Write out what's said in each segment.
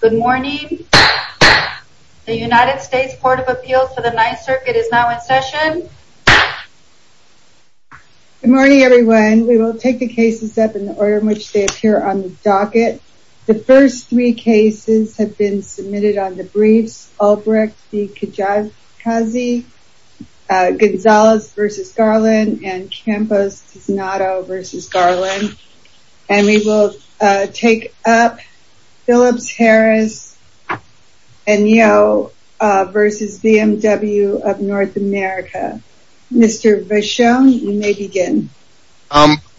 Good morning. The United States Court of Appeals for the Ninth Circuit is now in session. Good morning everyone. We will take the cases up in the order in which they appear on the docket. The first three cases have been submitted on the briefs. Albrecht v. Kajikazi, Gonzales v. Garland, and Campos-Tiznado v. Garland. And we will take up Phillips-Harris and Yo v. BMW of North America. Mr. Vachon, you may begin.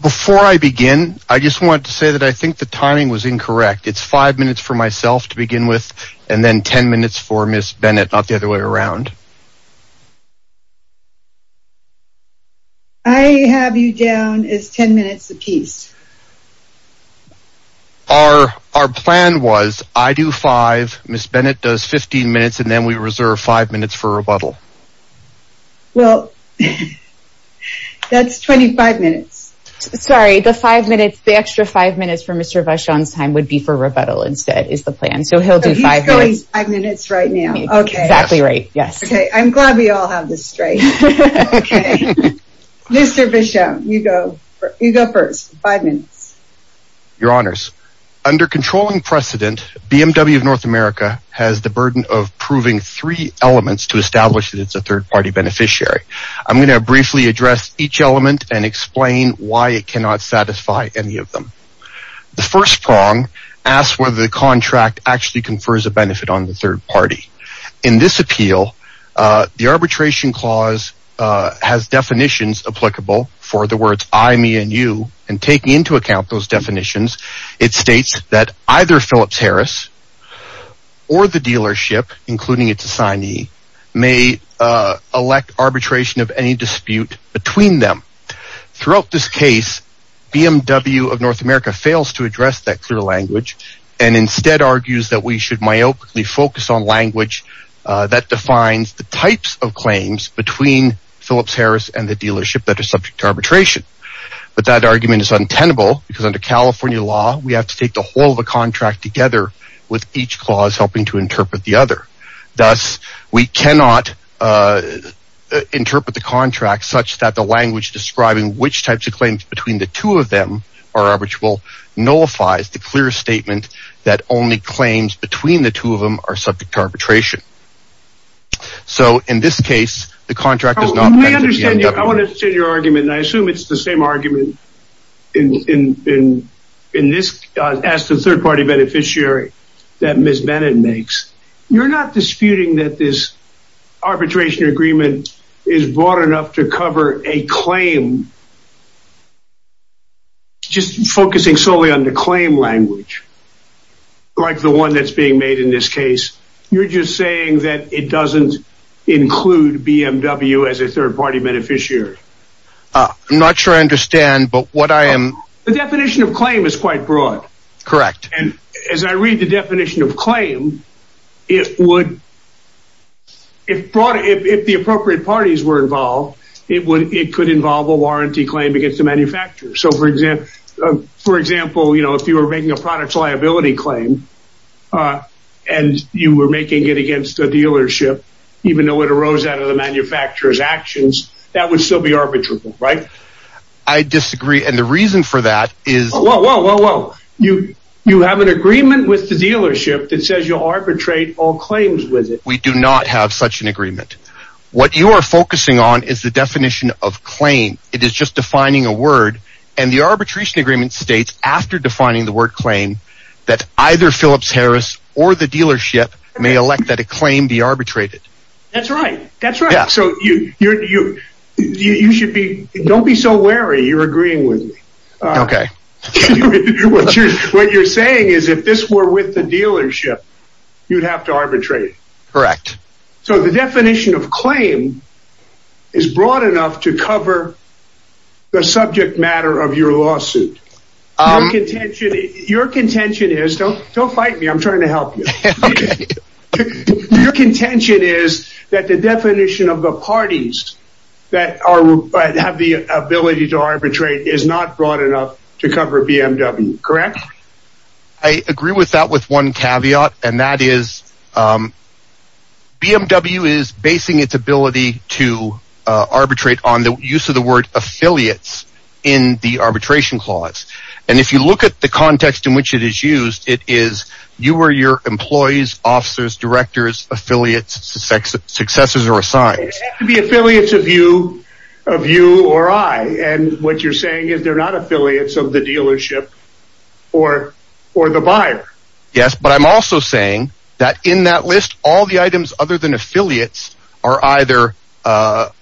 Before I begin, I just wanted to say that I think the timing was incorrect. It's five minutes for myself to begin with and then ten minutes for Ms. Bennett, not the other way around. I have you down as ten minutes apiece. Our plan was I do five, Ms. Bennett does 15 minutes, and then we reserve five minutes for rebuttal. Well, that's 25 minutes. Sorry, the five minutes, the extra five minutes for Mr. Vachon's time would be for rebuttal instead is the plan. So he'll do five minutes. Exactly right. Yes. Okay. I'm glad we all have this straight. Mr. Vachon, you go first. Five minutes. Your honors, under controlling precedent, BMW of North America has the burden of proving three elements to establish that it's a third party beneficiary. I'm going to briefly address each element and explain why it cannot satisfy any of them. The first prong asks whether the contract actually confers a benefit on the third party. In this appeal, the arbitration clause has definitions applicable for the words I, me and you. And taking into account those definitions, it states that either Phillips Harris or the dealership, including its assignee, may elect arbitration of any dispute between them. Throughout this case, BMW of North America fails to address that clear language and instead argues that we should focus on language that defines the types of claims between Phillips Harris and the dealership that are subject to arbitration. But that argument is untenable because under California law, we have to take the whole of the contract together with each clause helping to interpret the other. Thus, we cannot interpret the contract such that the language describing which types of claims between the two of them are arbitrable, nullifies the clear statement that only claims between the two of them are subject to arbitration. So in this case, the contract does not... I want to understand your argument and I assume it's the same argument in this as the third party beneficiary that Ms. Bennett makes. You're not disputing that this arbitration agreement is broad enough to cover a claim, just focusing solely on the claim language, like the one that's being made in this case. You're just saying that it doesn't include BMW as a third party beneficiary. I'm not sure I understand, but what I am... The definition of claim is quite broad. Correct. And as I read the definition of claim, it would... If the appropriate parties were involved, it could involve a warranty claim against the manufacturer. So for example, if you were making a product liability claim and you were making it against a dealership, even though it arose out of the manufacturer's actions, that would still be arbitrable, right? I disagree. And the reason for that is... You have an agreement with the dealership that says you'll arbitrate all claims with it. We do not have such an agreement. What you are focusing on is the definition of claim. It is just defining a word. And the arbitration agreement states after defining the word claim that either Phillips Harris or the dealership may elect that a claim be arbitrated. That's right. That's right. So you should be... Don't be so wary. You're agreeing with me. Okay. What you're saying is if this were with the dealership, you'd have to arbitrate. Correct. So the definition of claim is broad enough to cover the subject matter of your lawsuit. Your contention is... Don't fight me. I'm trying to help you. Your contention is that the definition of the parties that have the ability to arbitrate is not broad enough to cover BMW. Correct? I agree with that with one caveat, and that is BMW is basing its ability to arbitrate on the use of the word affiliates in the arbitration clause. And if you look at the context in which it is used, it is you or your employees, officers, directors, affiliates, successors, or assigned. The affiliates of you or I. And what you're saying is they're not affiliates of the dealership or the buyer. Yes, but I'm also saying that in that list, all the items other than affiliates are either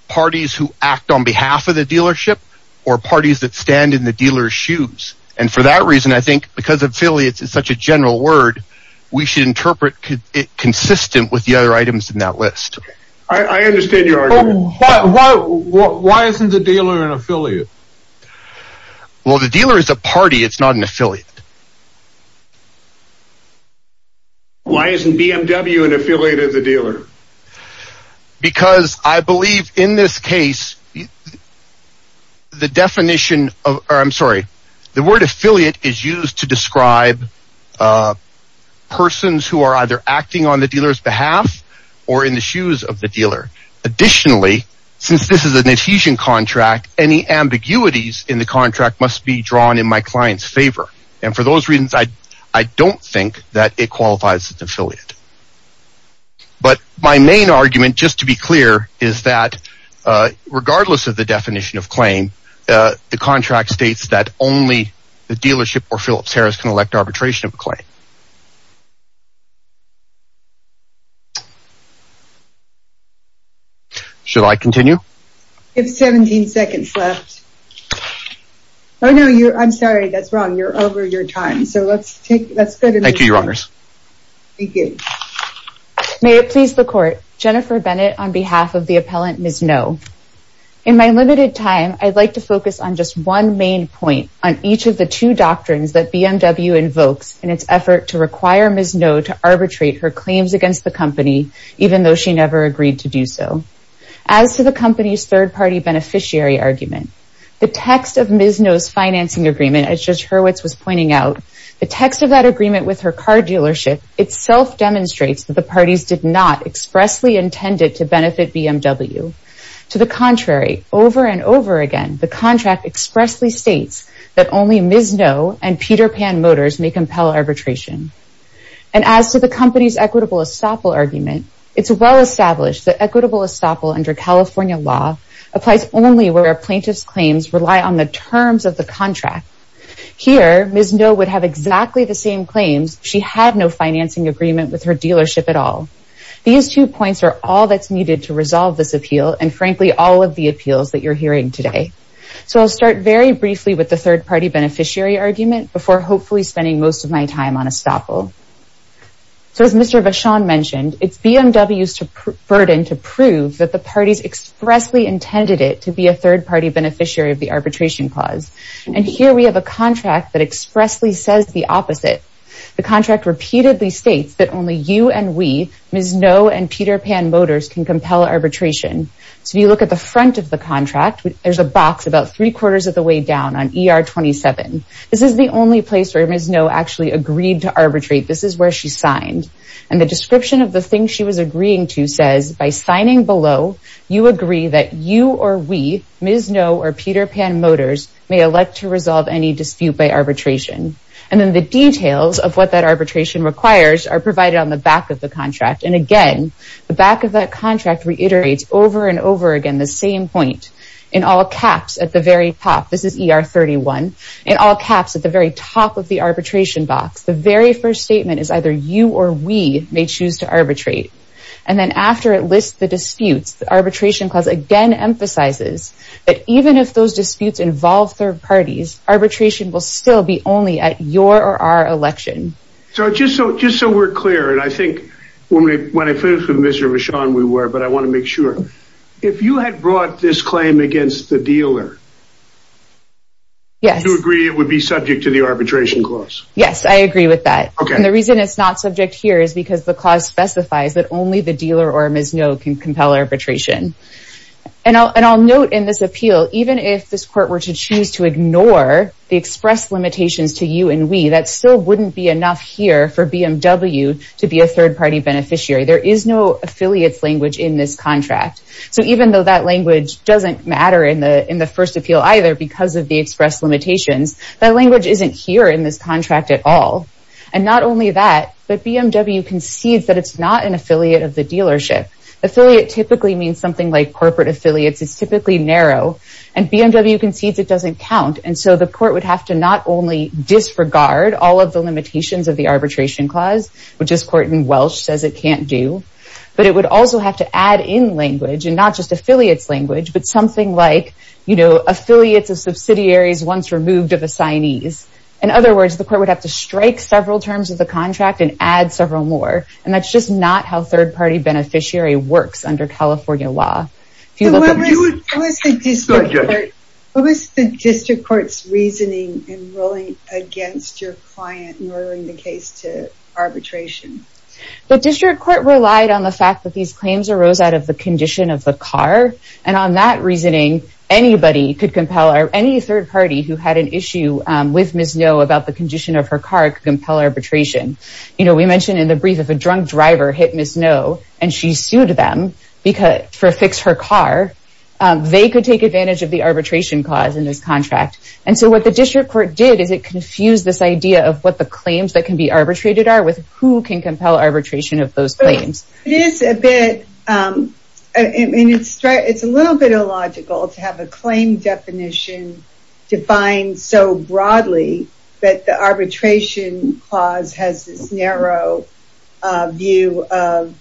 parties who act on behalf of the dealership or parties that stand in the dealer's shoes. And for that reason, I think because affiliates is such a general word, we should Why isn't the dealer an affiliate? Well, the dealer is a party. It's not an affiliate. Why isn't BMW an affiliate of the dealer? Because I believe in this case, the definition of... I'm sorry. The word affiliate is used to describe persons who are either acting on the dealer's behalf or in the shoes of the dealer. Additionally, since this is an adhesion contract, any ambiguities in the contract must be drawn in my client's favor. And for those reasons, I don't think that it qualifies as an affiliate. But my main argument, just to be clear, is that regardless of the definition of claim, the contract states that only the dealership or Phillips-Harris can elect arbitration of a claim. Should I continue? You have 17 seconds left. Oh no, I'm sorry. That's wrong. You're over your time. So let's take... Thank you, Your Honors. Thank you. May it please the court. Jennifer Bennett on behalf of the appellant, Ms. Ngo. In my limited time, I'd like to focus on just one main point on each of the two doctrines that BMW invokes in its effort to require Ms. Ngo to arbitrate her claims against the company, even though she never agreed to do so. As to the company's third-party beneficiary argument, the text of Ms. Ngo's financing agreement, as Judge Hurwitz was pointing out, the text of that agreement with her car dealership itself demonstrates that the parties did not expressly intend it to the contrary. Over and over again, the contract expressly states that only Ms. Ngo and Peter Pan Motors may compel arbitration. And as to the company's equitable estoppel argument, it's well established that equitable estoppel under California law applies only where a plaintiff's claims rely on the terms of the contract. Here, Ms. Ngo would have exactly the same claims if she had no financing agreement with her dealership at all. These two points are all that's needed to resolve this appeal, and frankly, all of the appeals that you're hearing today. So I'll start very briefly with the third-party beneficiary argument before hopefully spending most of my time on estoppel. So as Mr. Vachon mentioned, it's BMW's burden to prove that the parties expressly intended it to be a third-party beneficiary of the arbitration clause. And here we have a contract that expressly says the opposite. The contract repeatedly states that only you and we, Ms. Ngo and Peter Pan Motors, can compel arbitration. So you look at the front of the contract, there's a box about three-quarters of the way down on ER 27. This is the only place where Ms. Ngo actually agreed to arbitrate. This is where she signed. And the description of the thing she was agreeing to says, by signing below, you agree that you or we, Ms. Ngo or Peter Pan Motors, may elect to resolve any dispute by arbitration. And then the details of what that arbitration requires are provided on the back of the contract. And again, the back of that contract reiterates over and over again the same point in all caps at the very top. This is ER 31. In all caps at the very top of the arbitration box, the very first statement is either you or we may choose to arbitrate. And then after it lists the disputes, the arbitration clause again emphasizes that even if those disputes involve third parties, arbitration will still be only at your or our election. So just so we're clear, and I think when we when I finished with Mr. Michon, we were, but I want to make sure, if you had brought this claim against the dealer, do you agree it would be subject to the arbitration clause? Yes, I agree with that. And the reason it's not subject here is because the clause specifies that only the dealer or Ms. Ngo can compel arbitration. And I'll note in this appeal, even if this court were to choose to ignore the express limitations to you and we, that still wouldn't be enough here for BMW to be a third-party beneficiary. There is no affiliates language in this contract. So even though that language doesn't matter in the in the first appeal either because of the express limitations, that language isn't here in this contract at all. And not only that, but BMW concedes that it's not an affiliate of the dealership. Affiliate typically means something like corporate affiliates. It's typically narrow and BMW concedes it doesn't count. And so the court would have to not only disregard all of the limitations of the arbitration clause, which this court in Welsh says it can't do, but it would also have to add in language and not just affiliates language, but something like, you know, affiliates of subsidiaries once removed of assignees. In other words, the court would have to strike several terms of the contract and add several more. And that's just not how third-party beneficiary works under California law. What was the district court's reasoning in ruling against your client in ordering the case to arbitration? The district court relied on the fact that these claims arose out of the condition of the car and on that reasoning, anybody could compel or any third party who had an issue with Ms. Noh about the condition of her car could compel arbitration. You know, we mentioned in the brief of a drunk driver hit Ms. Noh and she sued them for fix her car. They could take advantage of the arbitration clause in this contract. And so what the district court did is it confused this idea of what the claims that can be arbitrated are with who can compel arbitration of those claims. It is a bit, I mean, it's a little bit illogical to have a claim definition defined so broadly that the arbitration clause has this narrow view of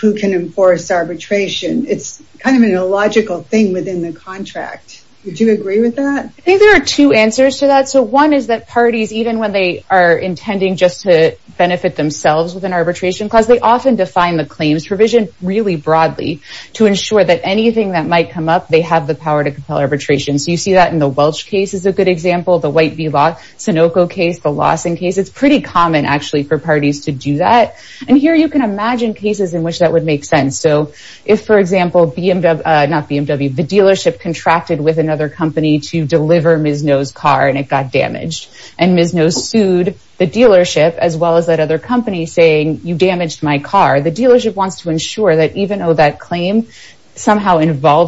who can enforce arbitration. It's kind of an illogical thing within the contract. Would you agree with that? I think there are two answers to that. So one is that parties, even when they are intending just to benefit themselves with an arbitration clause, they often define the claims provision really broadly to ensure that anything that might come up, they have the power to compel arbitration. So you see that in the Welch case is a good example, the White v. Law, Sunoco case, the Lawson case. It's pretty common actually for parties to do that. And here you can imagine cases in which that would make sense. So if, for example, BMW, not BMW, the dealership contracted with another company to deliver Ms. Noh's car and it got damaged. And Ms. Noh sued the dealership as well as that other company saying you damaged my car.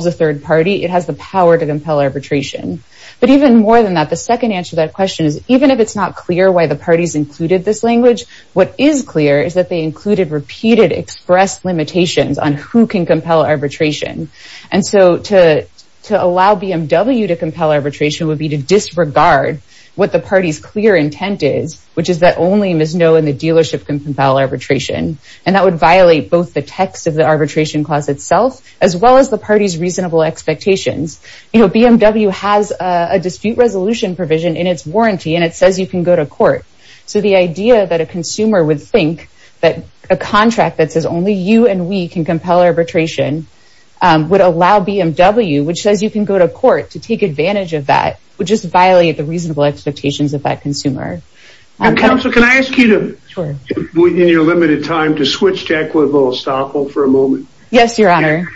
The third party, it has the power to compel arbitration. But even more than that, the second answer to that question is even if it's not clear why the parties included this language, what is clear is that they included repeated express limitations on who can compel arbitration. And so to allow BMW to compel arbitration would be to disregard what the party's clear intent is, which is that only Ms. Noh and the dealership can compel arbitration. And that would violate both the text of the arbitration clause itself, as well as the party's reasonable expectations. You know, BMW has a dispute resolution provision in its warranty and it says you can go to court. So the idea that a consumer would think that a contract that says only you and we can compel arbitration would allow BMW, which says you can go to court to take advantage of that, would just violate the reasonable expectations of that consumer. Counsel, can I ask you to, in your limited time, to switch to equitable estoppel for a moment? Yes, your honor.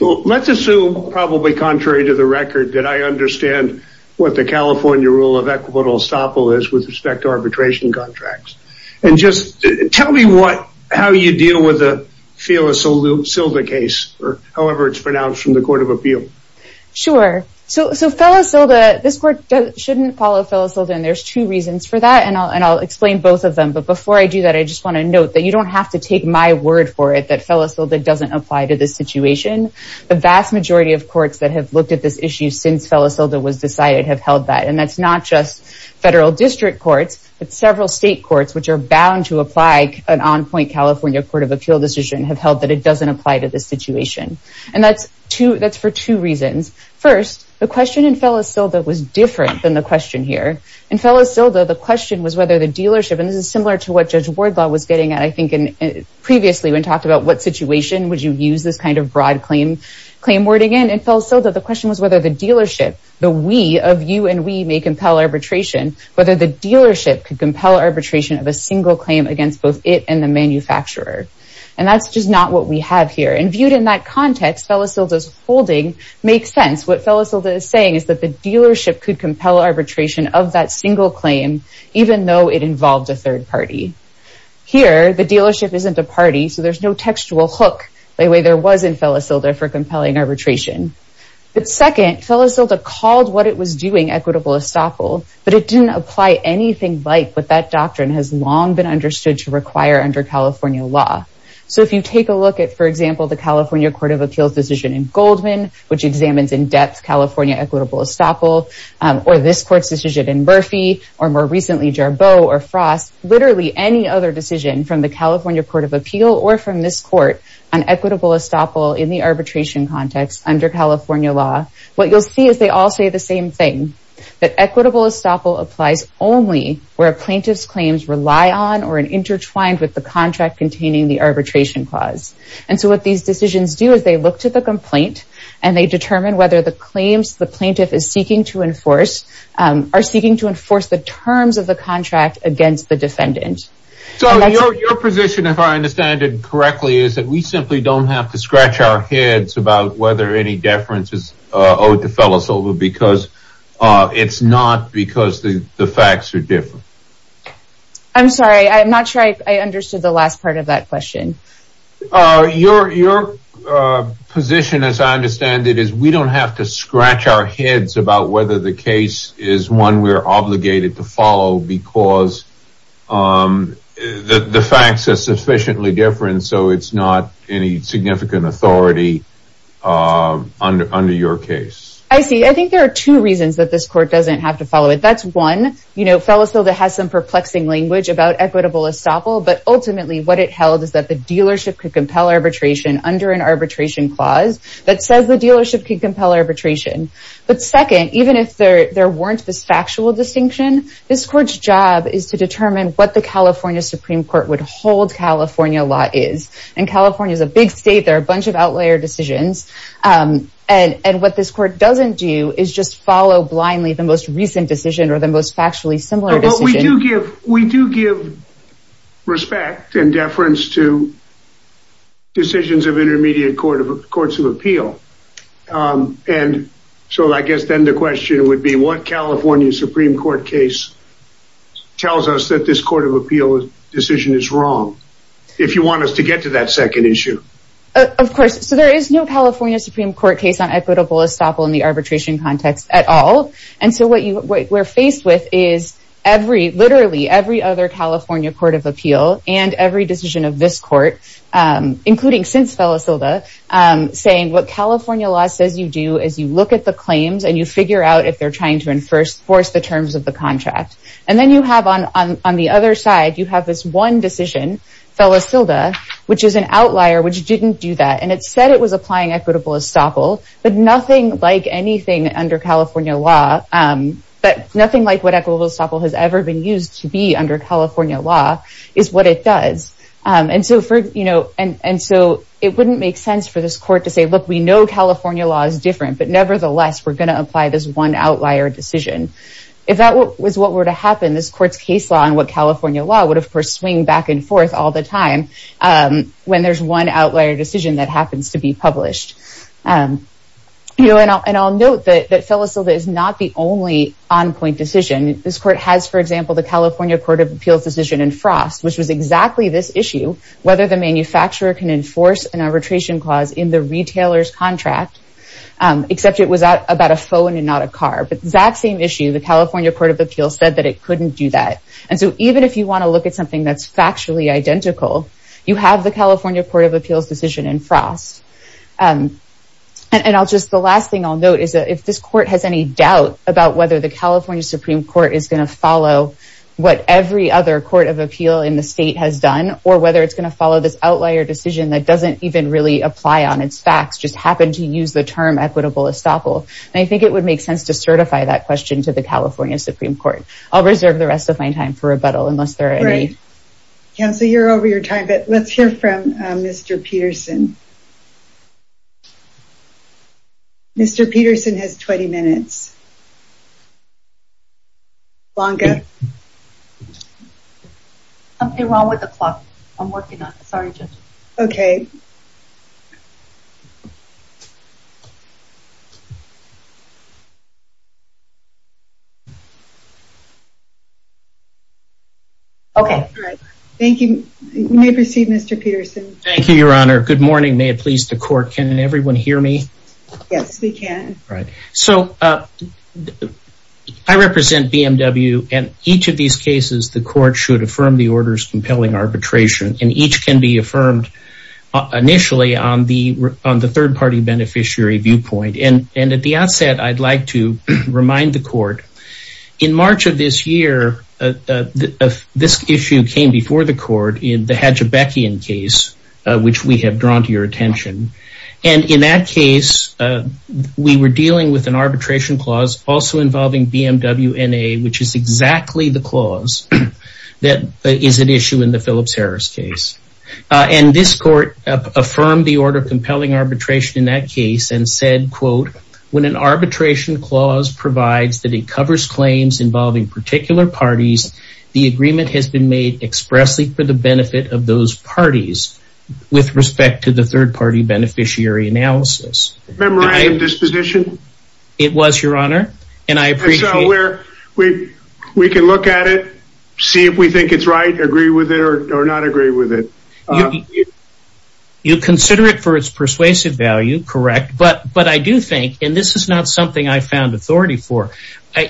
Let's assume, probably contrary to the record, that I understand what the California rule of equitable estoppel is with respect to arbitration contracts. And just tell me what, how you deal with the Phyllis Silda case, or however it's pronounced from the Court of Appeal. Sure. So Phyllis Silda, this court shouldn't follow Phyllis Silda, and there's two reasons for that. And I'll explain both of them. But before I do that, I just want to note that you don't have to take my word for it that Phyllis Silda doesn't apply to this situation. The vast majority of courts that have looked at this issue since Phyllis Silda was decided have held that. And that's not just federal district courts, but several state courts, which are bound to apply an on-point California Court of Appeal decision, have held that it doesn't apply to this situation. And that's for two reasons. First, the question in Phyllis Silda was different than the question here. In Phyllis Silda, the question was whether the dealership, and this is similar to what Judge Wardlaw was getting at, I think, previously when he talked about what situation would you use this kind of broad claim wording in. In Phyllis Silda, the question was whether the dealership, the we of you and we, may compel arbitration, whether the dealership could compel arbitration of a single claim against both it and the manufacturer. And that's just not what we have here. And viewed in that context, Phyllis Silda's holding makes sense. What Phyllis Silda is saying is that the dealership could compel arbitration of that single claim, even though it involved a third party. Here, the dealership isn't a party, so there's no textual hook the way there was in Phyllis Silda for compelling arbitration. But second, Phyllis Silda called what it was doing equitable estoppel, but it didn't apply anything like what that doctrine has long been understood to require under California law. So if you take a look at, for example, the California Court of Appeals decision in Goldman, which examines in depth California equitable estoppel, or this court's decision in Murphy, or more recently Jarboe or Frost, literally any other decision from the California Court of Appeal or from this court on equitable estoppel in the arbitration context under California law, what you'll see is they all say the same thing, that equitable estoppel applies only where a plaintiff's claims rely on or are intertwined with the contract containing the arbitration clause. And so what these decisions do is they look to the complaint and they determine whether the claims the plaintiff is seeking to enforce are seeking to enforce the terms of the contract against the defendant. So your position, if I understand it correctly, is that we simply don't have to scratch our heads about whether any deference is owed to Felisola because it's not because the the facts are different? I'm sorry, I'm not sure I understood the last part of that question. Your position, as I understand it, is we don't have to scratch our heads about whether the case is one we're obligated to follow because the facts are sufficiently different, so it's not any under your case. I see, I think there are two reasons that this court doesn't have to follow it. That's one, you know, Felisola has some perplexing language about equitable estoppel, but ultimately what it held is that the dealership could compel arbitration under an arbitration clause that says the dealership could compel arbitration. But second, even if there weren't this factual distinction, this court's job is to determine what the California Supreme Court would and what this court doesn't do is just follow blindly the most recent decision or the most factually similar decision. We do give respect and deference to decisions of intermediate courts of appeal, and so I guess then the question would be what California Supreme Court case tells us that this court of appeal decision is wrong, if you want us to get to that second issue? Of course, so there is no California Supreme Court case on equitable estoppel in the arbitration context at all, and so what we're faced with is every, literally every other California court of appeal and every decision of this court, including since Felisola, saying what California law says you do is you look at the claims and you figure out if they're trying to enforce the terms of the contract. And then you have on the other side, you have this one decision, Felisola, which is an applying equitable estoppel, but nothing like anything under California law, but nothing like what equitable estoppel has ever been used to be under California law is what it does. And so for, you know, and so it wouldn't make sense for this court to say, look, we know California law is different, but nevertheless, we're going to apply this one outlier decision. If that was what were to happen, this court's case law and what California law would, of course, swing back and forth all the time when there's one outlier decision that happens to be published. You know, and I'll note that Felisola is not the only on-point decision. This court has, for example, the California Court of Appeals decision in Frost, which was exactly this issue, whether the manufacturer can enforce an arbitration clause in the retailer's contract, except it was about a phone and not a car, but that same issue, the California Court of Appeals said that it couldn't do that. And so even if you have the California Court of Appeals decision in Frost, and I'll just, the last thing I'll note is that if this court has any doubt about whether the California Supreme Court is going to follow what every other court of appeal in the state has done, or whether it's going to follow this outlier decision that doesn't even really apply on its facts, just happened to use the term equitable estoppel. And I think it would make sense to certify that question to the California Supreme Court. I'll reserve the rest of my time for rebuttal unless there are any. Counselor, you're over your time, but let's hear from Mr. Peterson. Mr. Peterson has 20 minutes. Blanca? Something wrong with the clock. I'm working on it. Sorry, Judge. Okay. Okay. Thank you. You may proceed, Mr. Peterson. Thank you, Your Honor. Good morning. May it please the court. Can everyone hear me? Yes, we can. Right. So I represent BMW and each of these initially on the third party beneficiary viewpoint. And at the outset, I'd like to remind the court, in March of this year, this issue came before the court in the Hajebekian case, which we have drawn to your attention. And in that case, we were dealing with an arbitration clause also involving BMW NA, which is exactly the clause that is an issue in the Phillips-Harris case. And this court affirmed the order compelling arbitration in that case and said, quote, when an arbitration clause provides that it covers claims involving particular parties, the agreement has been made expressly for the benefit of those parties with respect to the third party beneficiary analysis. Memorandum of disposition? It was, Your Honor. And I appreciate we can look at it, see if we think it's right, agree with it or not agree with it. You consider it for its persuasive value, correct. But I do think, and this is not something I found authority for,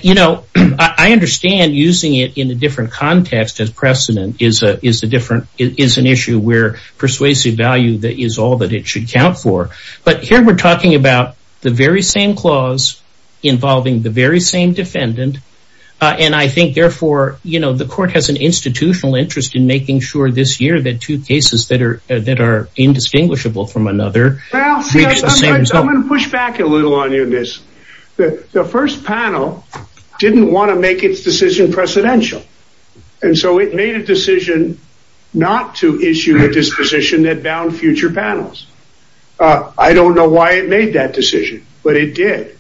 you know, I understand using it in a different context as precedent is an issue where persuasive value is all that it should count for. But here we're talking about the very same clause involving the very same defendant. And I think therefore, you know, the court has an institutional interest in making sure this year that two cases that are that are indistinguishable from another. I'm going to push back a little on you in this. The first panel didn't want to make its decision precedential. And so it made a decision not to issue a disposition that bound future panels. I don't know why it made that decision, but it did.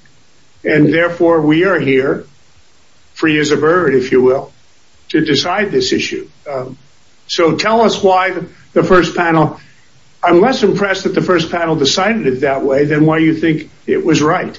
And therefore we are here, free as a bird, if you will, to decide this issue. So tell us why the first panel, I'm less impressed that the first panel decided it that way than why you think it was right.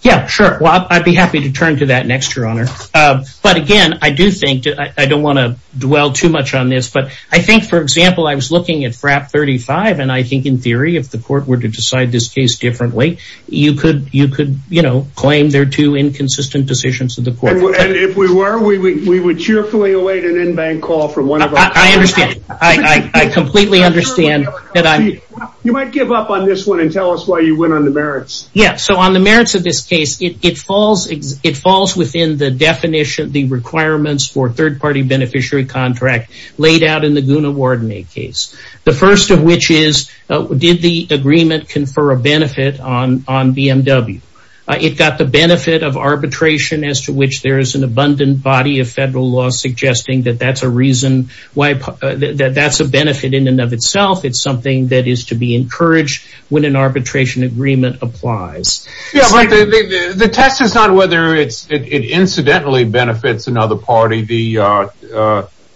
Yeah, sure. Well, I'd be happy to turn to that next, Your Honor. But again, I do think I don't want to dwell too much on this. But I think, for example, I was looking at FRAP 35. And I think in theory, if the court were to decide this case differently, you could you could, you know, claim they're two inconsistent decisions of the court. And if we were, we would cheerfully await an in-bank call from one of them. I understand. I completely understand that. You might give up on this one and tell us why you went on the merits. Yeah. So on the merits of this case, it falls it falls within the definition of the requirements for third party beneficiary contract laid out in the Guna Warden case, the first of which is, did the agreement confer a benefit on on BMW? It got the benefit of arbitration as to which there is an abundant body of federal law suggesting that that's a reason why that's a benefit in and of itself. It's something that is to be encouraged when an arbitration agreement applies. Yeah, but the test is not whether it's it incidentally benefits another party, the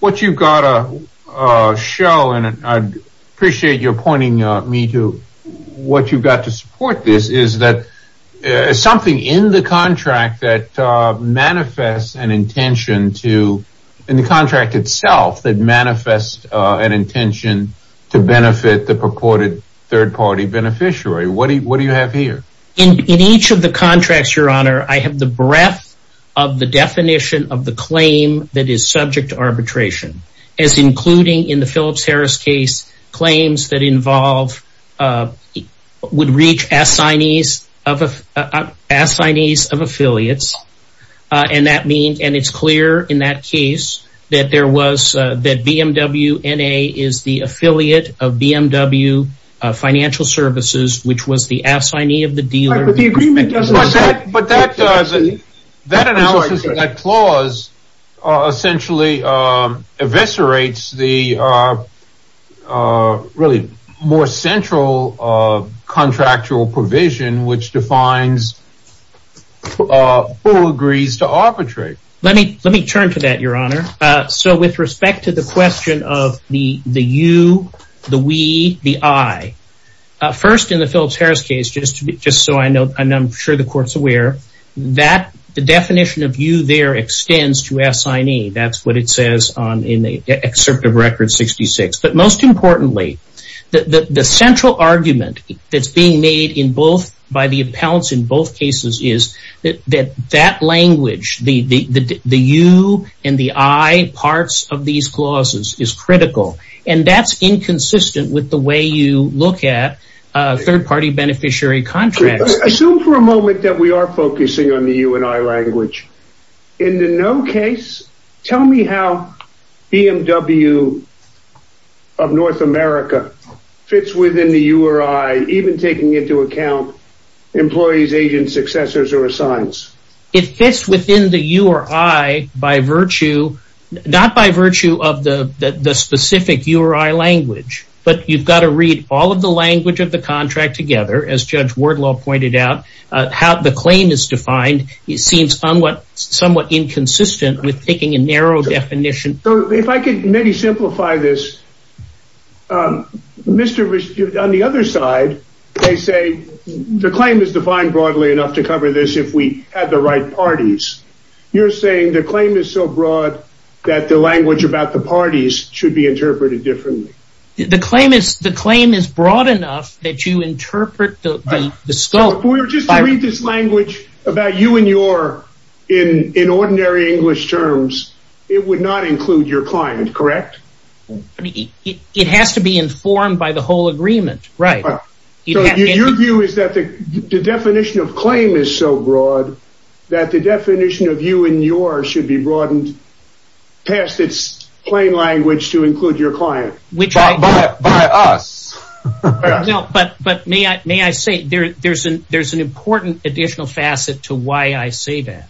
what you've got to show. And I appreciate your pointing me to what you've got to support. This is that something in the contract that manifests an intention to in the contract itself that manifest an intention to benefit the purported third party beneficiary. What do you have here? In each of the contracts, your honor, I have the breadth of the definition of the claim that is subject to arbitration, as including in the Phillips Harris case claims that involve would reach assignees of affiliates. And that means and it's clear in that case that there was that BMW is the affiliate of BMW Financial Services, which was the assignee of the dealer. But the agreement doesn't. But that does that analysis of that clause essentially eviscerates the really more central contractual provision, which defines who agrees to arbitrate. Let me let me turn to that, your honor. So with respect to the question of the the you, the we, the I first in the Phillips Harris case, just just so I know, and I'm sure the court's aware that the definition of you there extends to assignee. That's what it says on in the excerpt of Record 66. But most importantly, the central argument that's being made in both by the appellants in both cases is that that language, the you and the I parts of these clauses is critical. And that's inconsistent with the way you look at third party beneficiary contracts. Assume for a moment that we are focusing on the you and I language in the no case. Tell me how BMW of North America fits within the you or I even taking into account employees, agents, successors or assignments. It fits within the you or I by virtue, not by virtue of the specific you or I language. But you've got to read all of the language of the contract together, as Judge Wardlaw pointed out, how the claim is defined. It seems somewhat inconsistent with taking a narrow definition. So if I could maybe simplify this, Mr. on the other side, they say the claim is defined broadly enough to cover this if we had the right parties. You're saying the claim is so broad that the language about the parties should be interpreted differently. The claim is the claim is broad enough that you interpret the scope. We're just trying to read this language about you and your in in ordinary English terms. It would not include your client, correct? It has to be informed by the whole agreement, right? Your view is that the definition of claim is so broad that the definition of you and yours should be broadened past its plain language to include your client, which I buy us. No, but but may I may I say there there's an there's an important additional facet to why I say that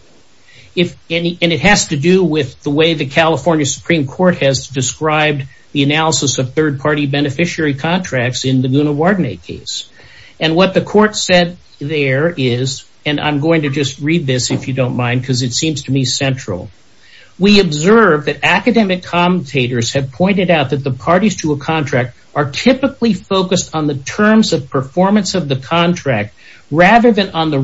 if any. And it has to do with the way the California Supreme Court has described the analysis of third party beneficiary contracts in the Guna Warden case. And what the court said there is, and I'm going to just read this if you don't mind, because it seems to me central. We observe that academic commentators have pointed out that the parties to a contract are typically focused on the terms of performance of the contract rather than on the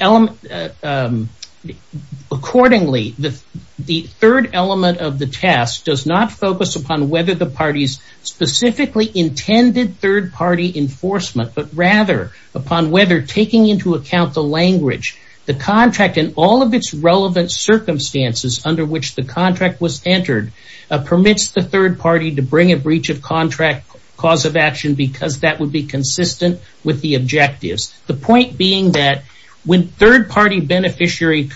element. Accordingly, the third element of the task does not focus upon whether the parties specifically intended third party enforcement, but rather upon whether taking into account the language, the contract and all of its relevant circumstances under which the contract was entered, permits the third party to bring a breach of contract cause of action, because that would be consistent with the objectives. The point being that when third party beneficiary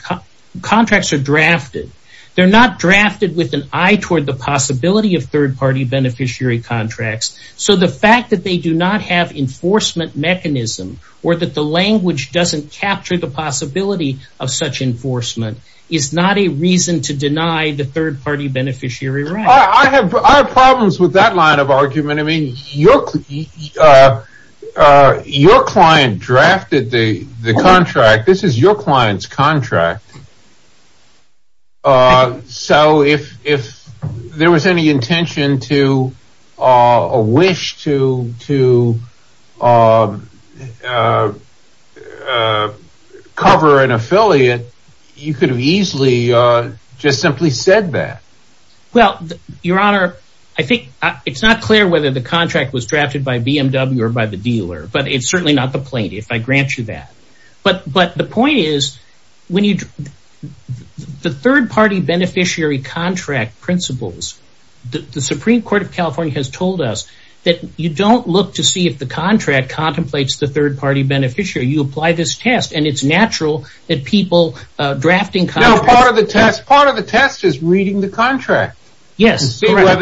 contracts are drafted, they're not drafted with an eye toward the possibility of third party beneficiary contracts. So the fact that they do not have enforcement mechanism or that the language doesn't capture the possibility of such enforcement is not a reason to deny the third party beneficiary I have problems with that line of argument. I mean, your client drafted the contract. This is your client's contract. So if there was any intention to wish to cover an affiliate, you could have easily just simply said that. Well, your honor, I think it's not clear whether the contract was drafted by BMW or by the dealer, but it's certainly not the plaintiff. I grant you that. But but the point is, when you the third party beneficiary contract principles, the Supreme Court of California has told us that you don't look to see if the contract contemplates the third party beneficiary, you apply this test. And it's natural that people drafting part of the test, part of the test is reading the contract. Yes.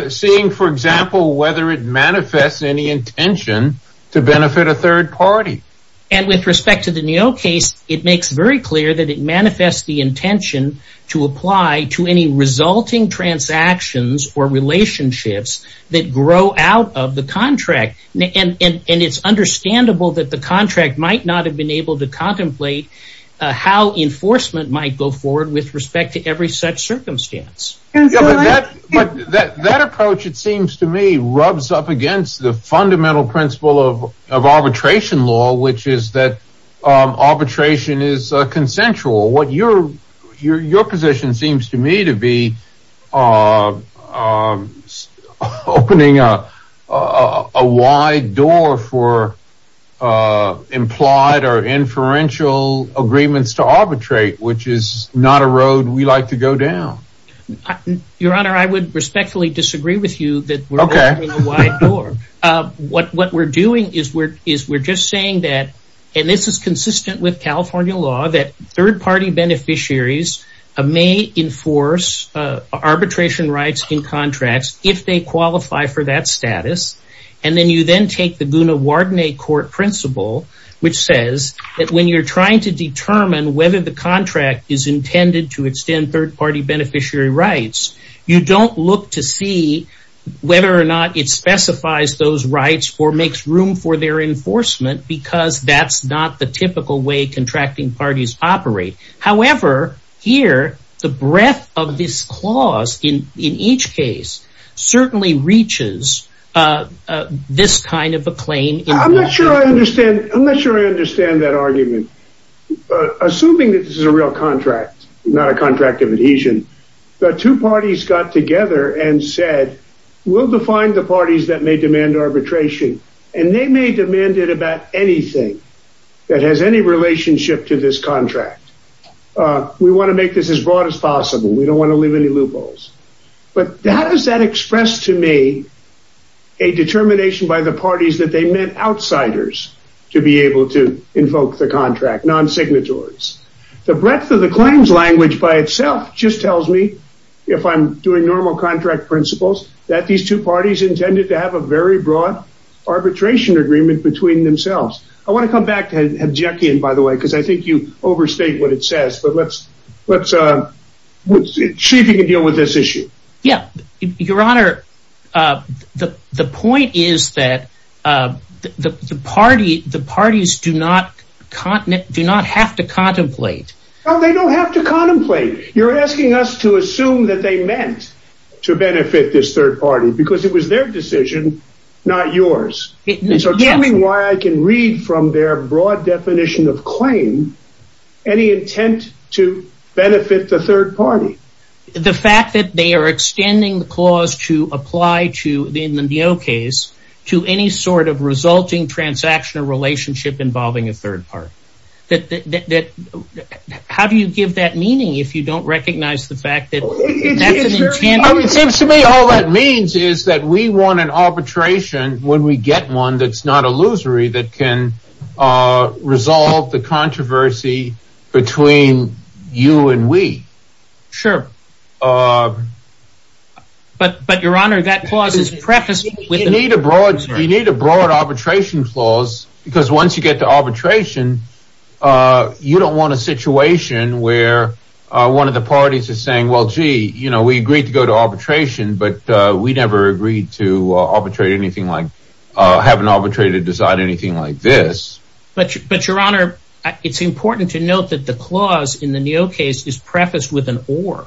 Seeing, for example, whether it manifests any intention to benefit a third party. And with respect to the case, it makes very clear that it manifests the intention to apply to any resulting transactions or relationships that grow out of the contract. And it's understandable that the contract might not have been able to contemplate how enforcement might go forward with respect to every such circumstance. But that approach, it seems to me, rubs up against the fundamental principle of arbitration law, which is that arbitration is consensual. What your your position seems to me to be opening up a wide door for implied or inferential agreements to arbitrate, which is not a road we like to go down. Your Honor, I would respectfully disagree with you that we're okay. What we're doing is we're is we're just saying that, and this is consistent with California law, that third party beneficiaries may enforce arbitration rights in contracts if they qualify for that status. And then you then take the Guna Wardenate Court principle, which says that when you're trying to determine whether the contract is intended to extend third party beneficiary rights, you don't look to see whether or not it specifies those rights or makes room for their enforcement, because that's not the typical way contracting parties operate. However, here, the breadth of this clause in in each case, certainly reaches this kind of a claim. I'm not sure I understand. I'm not sure I understand that argument. Assuming that this is a real contract, not a contract of adhesion. The two parties got together and said, we'll define the parties that may demand arbitration, and they may demand it about anything that has any relationship to this contract. We want to make this as broad as possible. We don't want to leave any loopholes. But how does that express to me a determination by the parties that they meant outsiders to be able to invoke the contract, non-signatories? The breadth of normal contract principles that these two parties intended to have a very broad arbitration agreement between themselves. I want to come back to have Jackie in, by the way, because I think you overstate what it says. But let's, let's see if you can deal with this issue. Yeah, Your Honor. The point is that the party, the parties do not continent do not have to to benefit this third party because it was their decision, not yours. So tell me why I can read from their broad definition of claim, any intent to benefit the third party. The fact that they are extending the clause to apply to the NEO case, to any sort of resulting transaction or relationship involving a third party. How do you give that meaning if you don't recognize the fact that it seems to me all that means is that we want an arbitration when we get one that's not illusory, that can resolve the controversy between you and we. Sure. But, but Your Honor, that clause is preface. We need a broad, we need a broad arbitration clause because once you get to arbitration, you don't want a situation where one of the parties is saying, well, gee, you know, we agreed to go to arbitration, but we never agreed to arbitrate anything like have an arbitrary to decide anything like this. But, but Your Honor, it's important to note that the clause in the NEO case is prefaced with an or.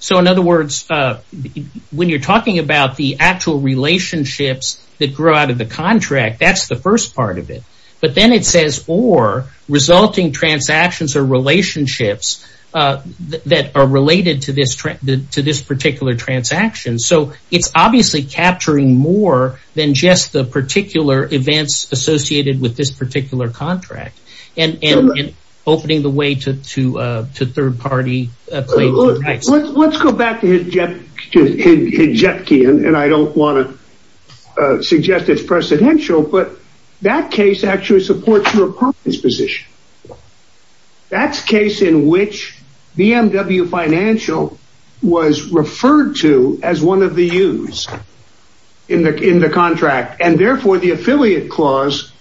So in other words, when you're talking about the actual relationships that grow out of the contract, that's the first part of it. But then it says or resulting transactions or relationships that are related to this to this particular transaction. So it's obviously capturing more than just the particular events associated with this particular contract and opening the way to third party. Let's go back to his jet. Jetki and I don't want to suggest it's precedential, but that case actually supports your position. That's case in which BMW Financial was referred to as one of the use in the in the contract, and therefore the affiliate clause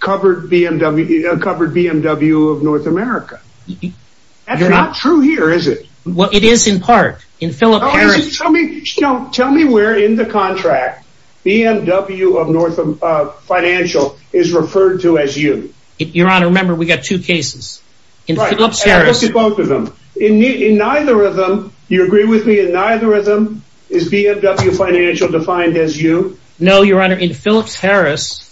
covered BMW BMW of North America. You're not true here, is it? Well, it is in part in Philip Harris. Tell me where in the contract BMW of North financial is referred to as you, Your Honor. Remember, we got two cases in both of them in neither of them. You agree with me and neither of them is BMW financial defined as you know, Your Honor, in Phillips Harris,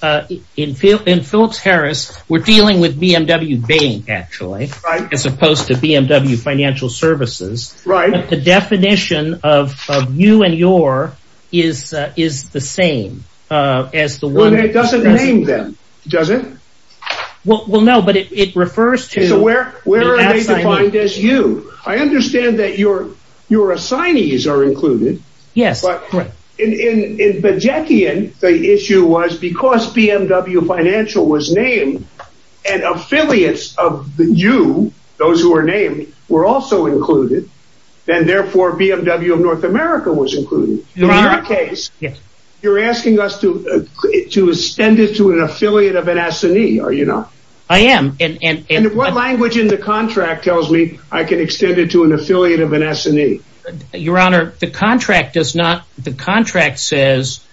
in Phil in Phillips Harris, we're dealing with BMW bank, actually, as opposed to BMW financial services, right? The definition of you and your is, is the same as the one that doesn't name them, does it? Well, no, but it refers to where where are they defined as you, I understand that your, your assignees are included. Yes, but in the Jackie and the issue was because BMW financial was named, and affiliates of you, those who are named were also included, and therefore BMW of North America was included. In our case, you're asking us to, to extend it to an affiliate of an assignee, or you know, I am and what language in the contract tells me I can extend it to an affiliate of an assignee? Your Honor, the contract does not, the contract says,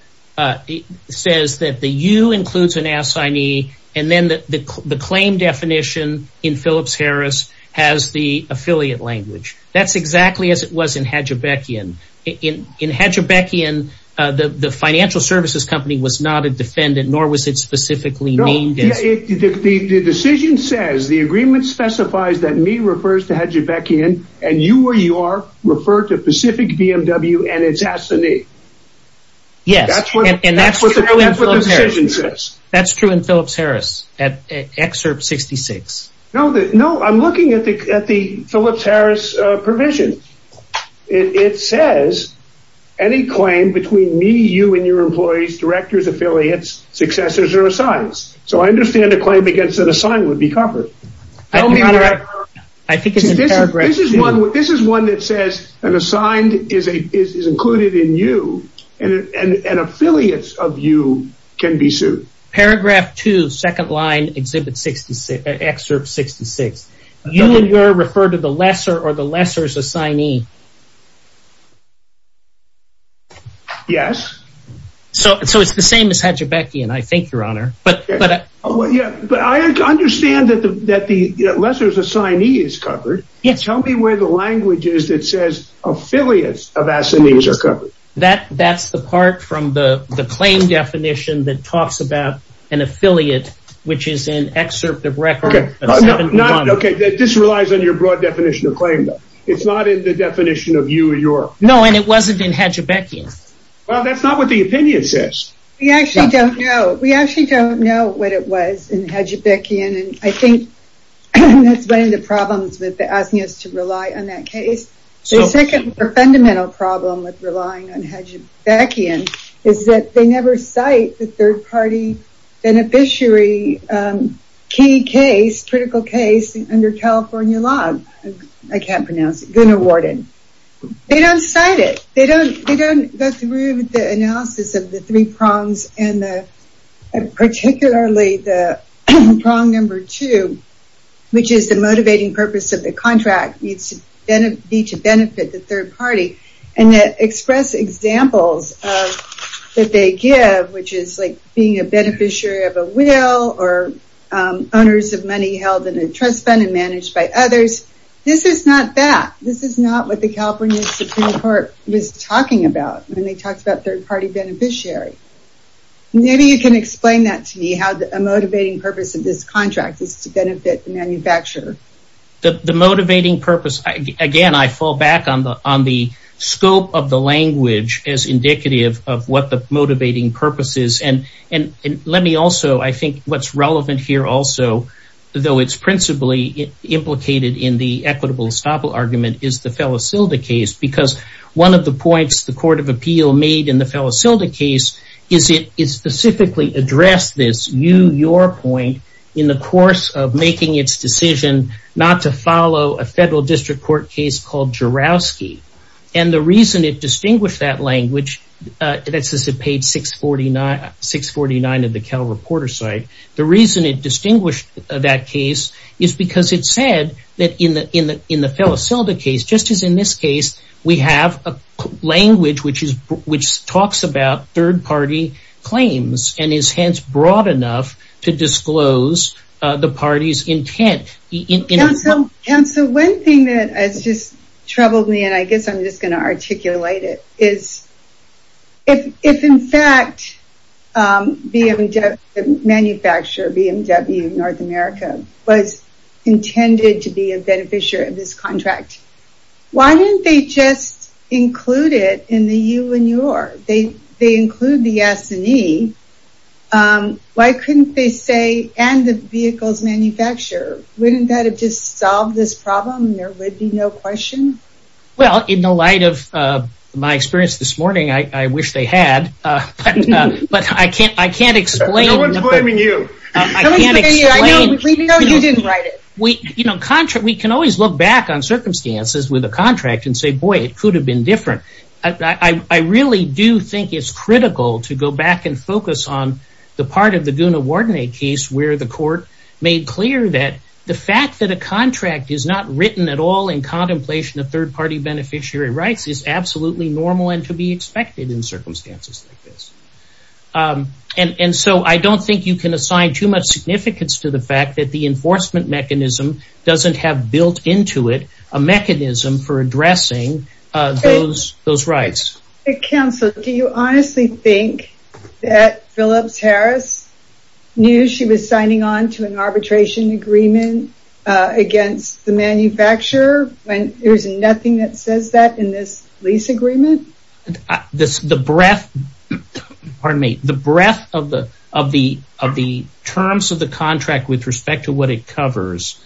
says that the you includes an assignee. And then the claim definition in Phillips Harris has the affiliate language. That's exactly as it was in Hedge Beckian. In Hedge Beckian, the financial services company was not a defendant, nor was it specifically named. The decision says the agreement specifies that me refers to Hedge Beckian, and you or you are referred to Pacific BMW and its assignee. Yes, and that's what the decision says. That's true in Phillips Harris at excerpt 66. No, no, I'm looking at the at the Phillips Harris provision. It says any claim between me, you and your employees, directors, affiliates, successors or assigns. So I understand the claim against an assigned would be covered. I think this is one that says an assigned is a is included in you and affiliates of you can be sued. Paragraph two, second line, Exhibit 66, Excerpt 66. You and your referred to the lesser or the lesser's assignee. Yes. So so it's the same as Hedge Beckian, I think, Your Honor. But but yeah, but I understand that the that the lesser's assignee is covered. Yes. Tell me where the language is that says affiliates of assignees are covered. That that's the part from the the claim definition that talks about an affiliate, which is an excerpt of record. OK, this relies on your broad definition of claim. It's not in the definition of you or your. No, and it wasn't in Hedge Beckian. Well, that's not what the opinion says. We actually don't know. We actually don't know what it was in Hedge Beckian. And I think that's one of the problems with asking us to rely on that case. So the second fundamental problem with relying on Hedge Beckian is that they never cite the third party beneficiary key case, critical case under California law. I can't pronounce it. Gunnawarden. They don't cite it. They don't they don't go through the analysis of the three prongs and particularly the prong number two, which is the motivating purpose of the contract needs to benefit the third party and express examples that they give, which is like being a beneficiary of a will or owners of money held in a trust fund and managed by others. This is not that. This is not what the California Supreme Court was talking about when they talked about third party beneficiary. Maybe you can explain that to me, how a motivating purpose of this contract is to benefit the manufacturer. The motivating purpose, again, I fall back on the on the scope of the language as indicative of what the motivating purpose is. And let me also, I think what's relevant here also, though it's principally implicated in the equitable estoppel argument, is the Felicilda case, because one of the points the Court of Appeal made in the Felicilda case is it is specifically addressed this you your point in the course of making its decision not to follow a federal district court case called Jourowsky. And the reason it distinguished that language that says it paid six forty nine, six forty nine of the Cal Reporter site. The reason it distinguished that case is because it said that in the in the in the Felicilda case, just as in this case, we have a language which is which talks about third party claims and is hence broad enough to disclose the party's intent. And so one thing that has just troubled me, and I guess I'm just going to articulate it, is if if, in fact, the manufacturer BMW North America was intended to be a beneficiary of this why didn't they just include it in the you and your? They they include the S and E. Why couldn't they say and the vehicle's manufacturer? Wouldn't that have just solved this problem? There would be no question. Well, in the light of my experience this morning, I wish they had. But I can't I can't explain. No one's blaming you. I can't explain. No, you didn't write it. You know, we can always look back on circumstances with a contract and say, boy, it could have been different. I really do think it's critical to go back and focus on the part of the Guna Wardenate case where the court made clear that the fact that a contract is not written at all in contemplation of third party beneficiary rights is absolutely normal and to be expected in circumstances like this. And so I don't think you can assign too much significance to the fact that the enforcement mechanism doesn't have built into it a mechanism for addressing those those rights. Counselor, do you honestly think that Phillips Harris knew she was signing on to an arbitration agreement against the manufacturer when there's nothing that says that in this lease agreement? This the breadth pardon me, the breadth of the of the of the terms of the contract with respect to what it covers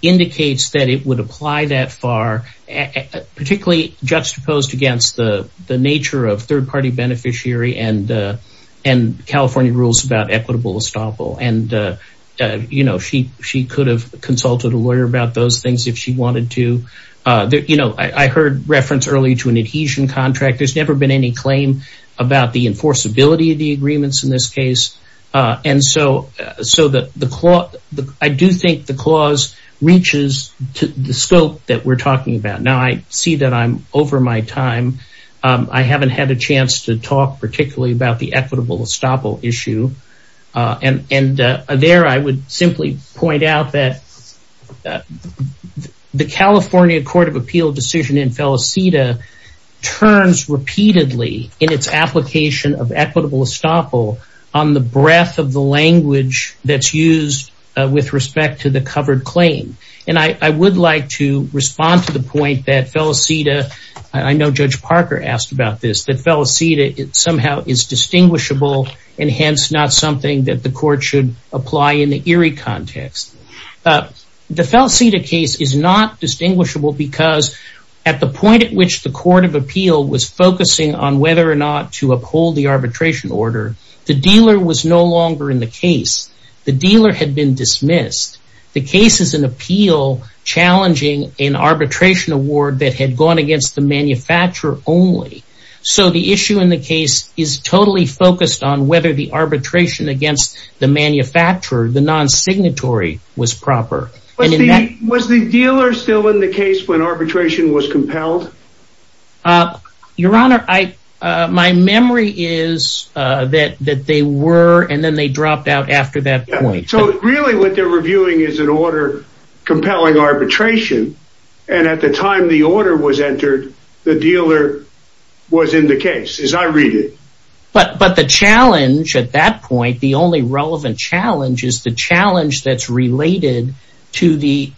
indicates that it would apply that far, particularly juxtaposed against the nature of third party beneficiary and and California rules about equitable estoppel. And, you know, she she could have consulted a lawyer about those things if she wanted to. You know, I heard reference early to an adhesion contract. There's never been any claim about the enforceability of the agreements in this case. And so so that the I do think the clause reaches the scope that we're talking about. Now, I see that I'm over my time. I haven't had a chance to talk particularly about the equitable estoppel issue. And there I would simply point out that the California Court of Appeal decision in Felicita turns repeatedly in its application of equitable estoppel on the breadth of the language that's used with respect to the covered claim. And I would like to respond to the point that Felicita, I know Judge Parker asked about this, that Felicita somehow is distinguishable and hence not something that the court should apply in the Erie context. The Felicita case is not distinguishable because at the point at which the Court of Appeal was focusing on whether or not to uphold the arbitration order, the dealer was no longer in the case. The dealer had been dismissed. The case is an appeal challenging an arbitration award that had gone against the manufacturer only. So the issue in the case is totally focused on whether the arbitration against the manufacturer, the non-signatory was proper. Was the dealer still in the case when arbitration was compelled? Your Honor, my memory is that they were and then they dropped out after that point. So really what they're reviewing is an order compelling arbitration. And at the time the challenge at that point, the only relevant challenge is the challenge that's related to the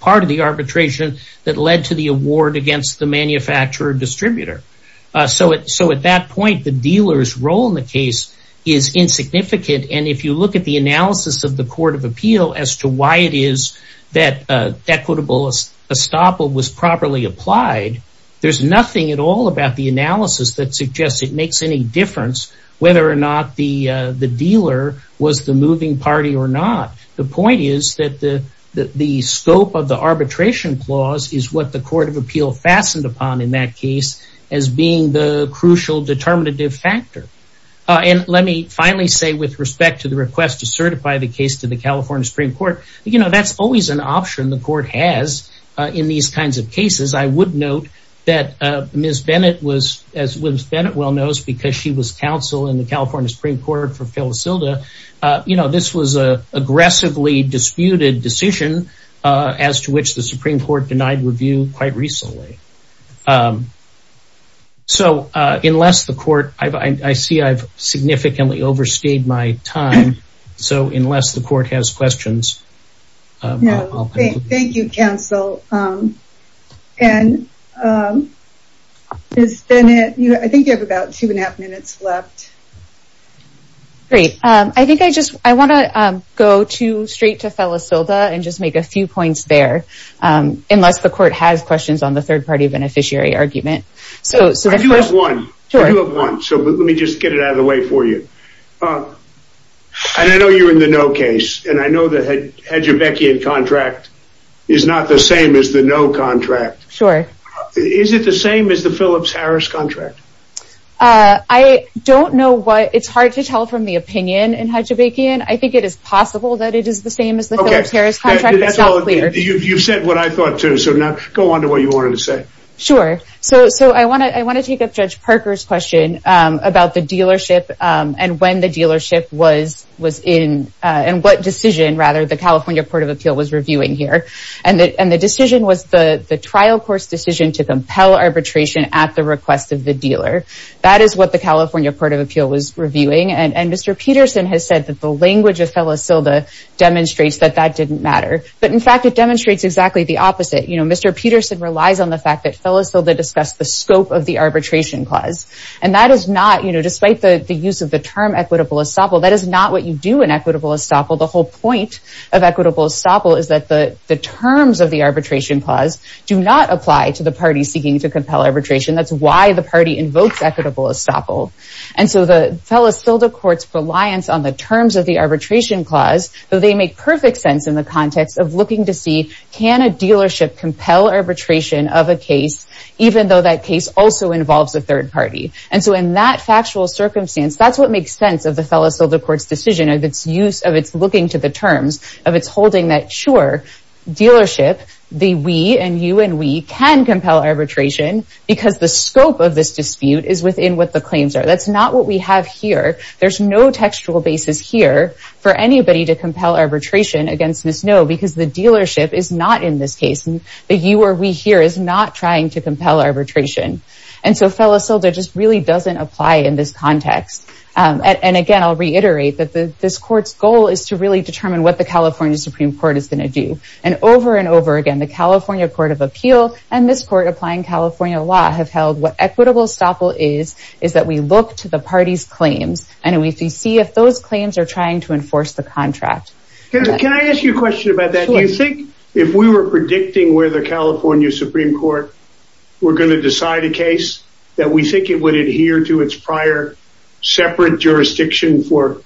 part of the arbitration that led to the award against the manufacturer distributor. So at that point, the dealer's role in the case is insignificant. And if you look at the analysis of the Court of Appeal as to why it is that equitable estoppel was properly applied, there's nothing at all about the analysis that suggests it makes any difference whether or not the dealer was the moving party or not. The point is that the scope of the arbitration clause is what the Court of Appeal fastened upon in that case as being the crucial determinative factor. And let me finally say with respect to the request to certify the case to the California Supreme Court, that's always an option the court has in these kinds of cases. I would note that Ms. Bennett was, as Ms. Bennett well knows, because she was counsel in the California Supreme Court for Phyllis Hilda, this was a aggressively disputed decision as to which the Supreme Court denied review quite recently. So unless the court, I see I've significantly overstayed my time. So unless the court has questions. Thank you, counsel. And Ms. Bennett, I think you have about two and a half minutes left. Great. I think I just I want to go to straight to Phyllis Hilda and just make a few points there, unless the court has questions on the third party beneficiary argument. So you have one. So let me just get it out of the way for you. Oh, I know you're in the no case and I know that had your Becky and contract is not the same as the no contract. Sure. Is it the same as the Phillips Harris contract? I don't know what it's hard to tell from the opinion and how to make it. I think it is possible that it is the same as the Harris contract. That's not clear. You've said what I thought, too. So now go on to what you wanted to say. Sure. So so I want to I want to take up Judge Parker's question about the dealership and when the dealership was was in and what decision, rather, the California Court of Appeal was reviewing here. And the decision was the trial court's decision to compel arbitration at the request of the dealer. That is what the California Court of Appeal was reviewing. And Mr. Peterson has said that the language of Phyllis Hilda demonstrates that that didn't matter. But in fact, it demonstrates exactly the opposite. Mr. Peterson relies on the fact that Phyllis Hilda discussed the scope of the arbitration clause. And that is not despite the use of the term equitable estoppel, that is not what you do in equitable estoppel. The whole point of equitable estoppel is that the terms of the arbitration clause do not apply to the party seeking to compel arbitration. That's why the party invokes equitable estoppel. And so the Phyllis Hilda court's reliance on the terms of the arbitration clause, though they make perfect sense in the context of looking to see can a dealership compel arbitration of a case, even though that case also involves a third party. And so in that factual circumstance, that's what makes sense of the Phyllis Hilda court's decision of its use of its looking to the terms of its holding that, sure, dealership, the we and you and we can compel arbitration because the scope of this dispute is within what the claims are. That's not what we have here. There's no textual basis here for anybody to compel arbitration against Ms. Ngo because the dealership is not in this case. The you or we here is not trying to compel arbitration. And so Phyllis Hilda just really doesn't apply in this context. And again, I'll reiterate that this court's goal is to really determine what the California Supreme Court is going to do. And over and over again, the California Court of Appeal and this court applying California law have held what equitable estoppel is, is that we look to the party's claims and we see if those claims are trying to enforce the contract. Can I ask you a question about that? Do you think if we were predicting where the California Supreme Court, we're going to decide a case that we think it would adhere to its prior separate jurisdiction for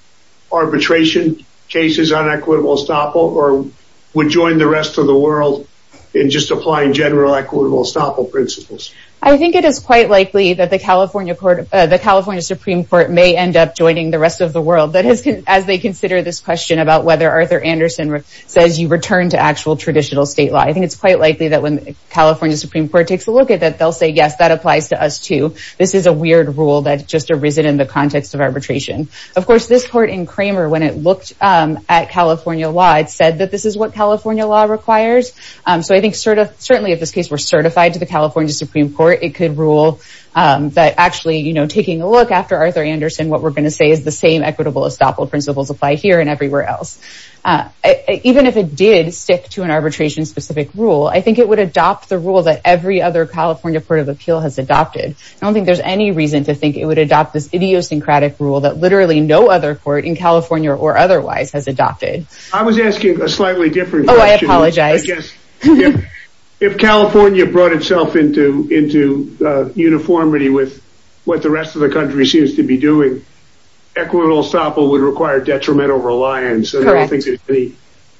arbitration cases on equitable estoppel or would join the rest of the world in just applying general equitable estoppel principles? I think it is quite likely that the California Supreme Court may end up joining the rest of the world. That is, as they consider this question about whether Arthur Anderson says you return to actual traditional state law. I think it's quite likely that when California Supreme Court takes a look at that, they'll say, yes, that applies to us too. This is a weird rule that just arisen in the context of arbitration. Of course, this court in Kramer, when it looked at California law, it said that this is what California law requires. So I think certainly if this case were certified to the California Supreme Court, it could rule that actually taking a look after Arthur Anderson, what we're going to say is the same equitable estoppel principles apply here and everywhere else. Even if it did stick to an arbitration specific rule, I think it would adopt the rule that every other California Court of Appeal has adopted. I don't think there's any reason to think it would adopt this idiosyncratic rule that literally no other court in California or otherwise has adopted. I was asking a slightly different question. Oh, I apologize. I guess if California brought itself into uniformity with what the rest of the country seems to be doing, equitable estoppel would require detrimental reliance. I don't think there's any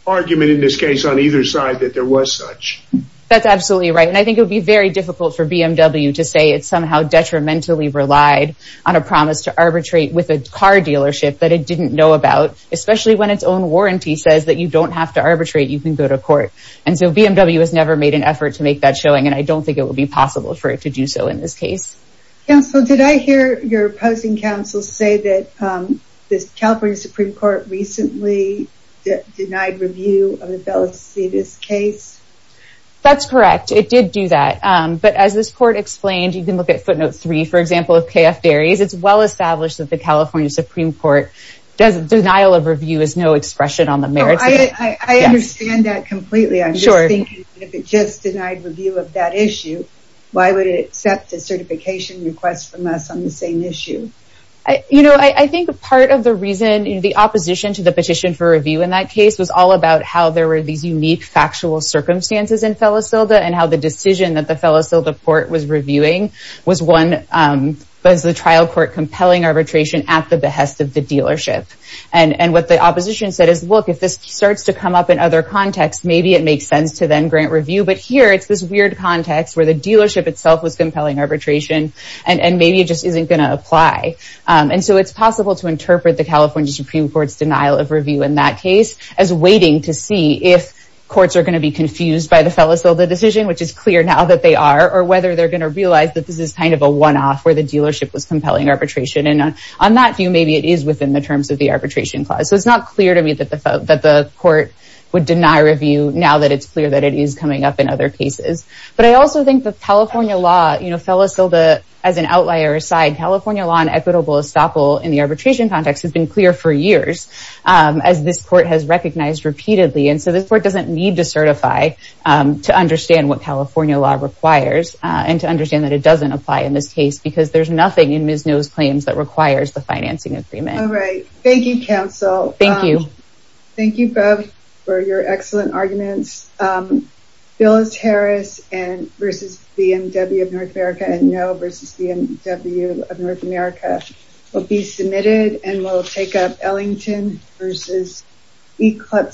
argument in this case on either side that there was such. That's absolutely right. And I think it would be very difficult for BMW to say it somehow detrimentally relied on a promise to arbitrate with a car dealership that it didn't know about, especially when its own warranty says that you don't have to arbitrate, you can go to court. And so BMW has never made an effort to make that showing. And I don't think it would be possible for it to do so in this case. Counsel, did I hear your opposing counsel say that this California Supreme Court recently denied review of the Felicitas case? That's correct. It did do that. But as this court explained, you can look at footnote three, for example, of KF Berries. It's well established that the California Supreme Court denial of review is no expression on the merits. I understand that completely. I'm sure if it just denied review of that issue, why would it accept a certification request from us on the same issue? You know, I think part of the reason the opposition to the petition for review in that case was all about how there were these unique factual circumstances in Felicita and how the was the trial court compelling arbitration at the behest of the dealership. And what the opposition said is, look, if this starts to come up in other contexts, maybe it makes sense to then grant review. But here it's this weird context where the dealership itself was compelling arbitration, and maybe it just isn't going to apply. And so it's possible to interpret the California Supreme Court's denial of review in that case as waiting to see if courts are going to be confused by the Felicita decision, which is clear now that they are, or whether they're going to realize that this is kind of a one-off where the dealership was compelling arbitration. And on that view, maybe it is within the terms of the arbitration clause. So it's not clear to me that the court would deny review now that it's clear that it is coming up in other cases. But I also think the California law, you know, Felicita as an outlier aside, California law and equitable estoppel in the arbitration context has been clear for years, as this court has recognized repeatedly. And so this court doesn't need to certify to understand what California law requires and to understand that it doesn't apply in this case, because there's nothing in Ms. Noe's claims that requires the financing agreement. All right. Thank you, counsel. Thank you. Thank you both for your excellent arguments. Phyllis Harris versus BMW of North America and Noe versus BMW of North America will be submitted and will take up Ellington versus Eclipse.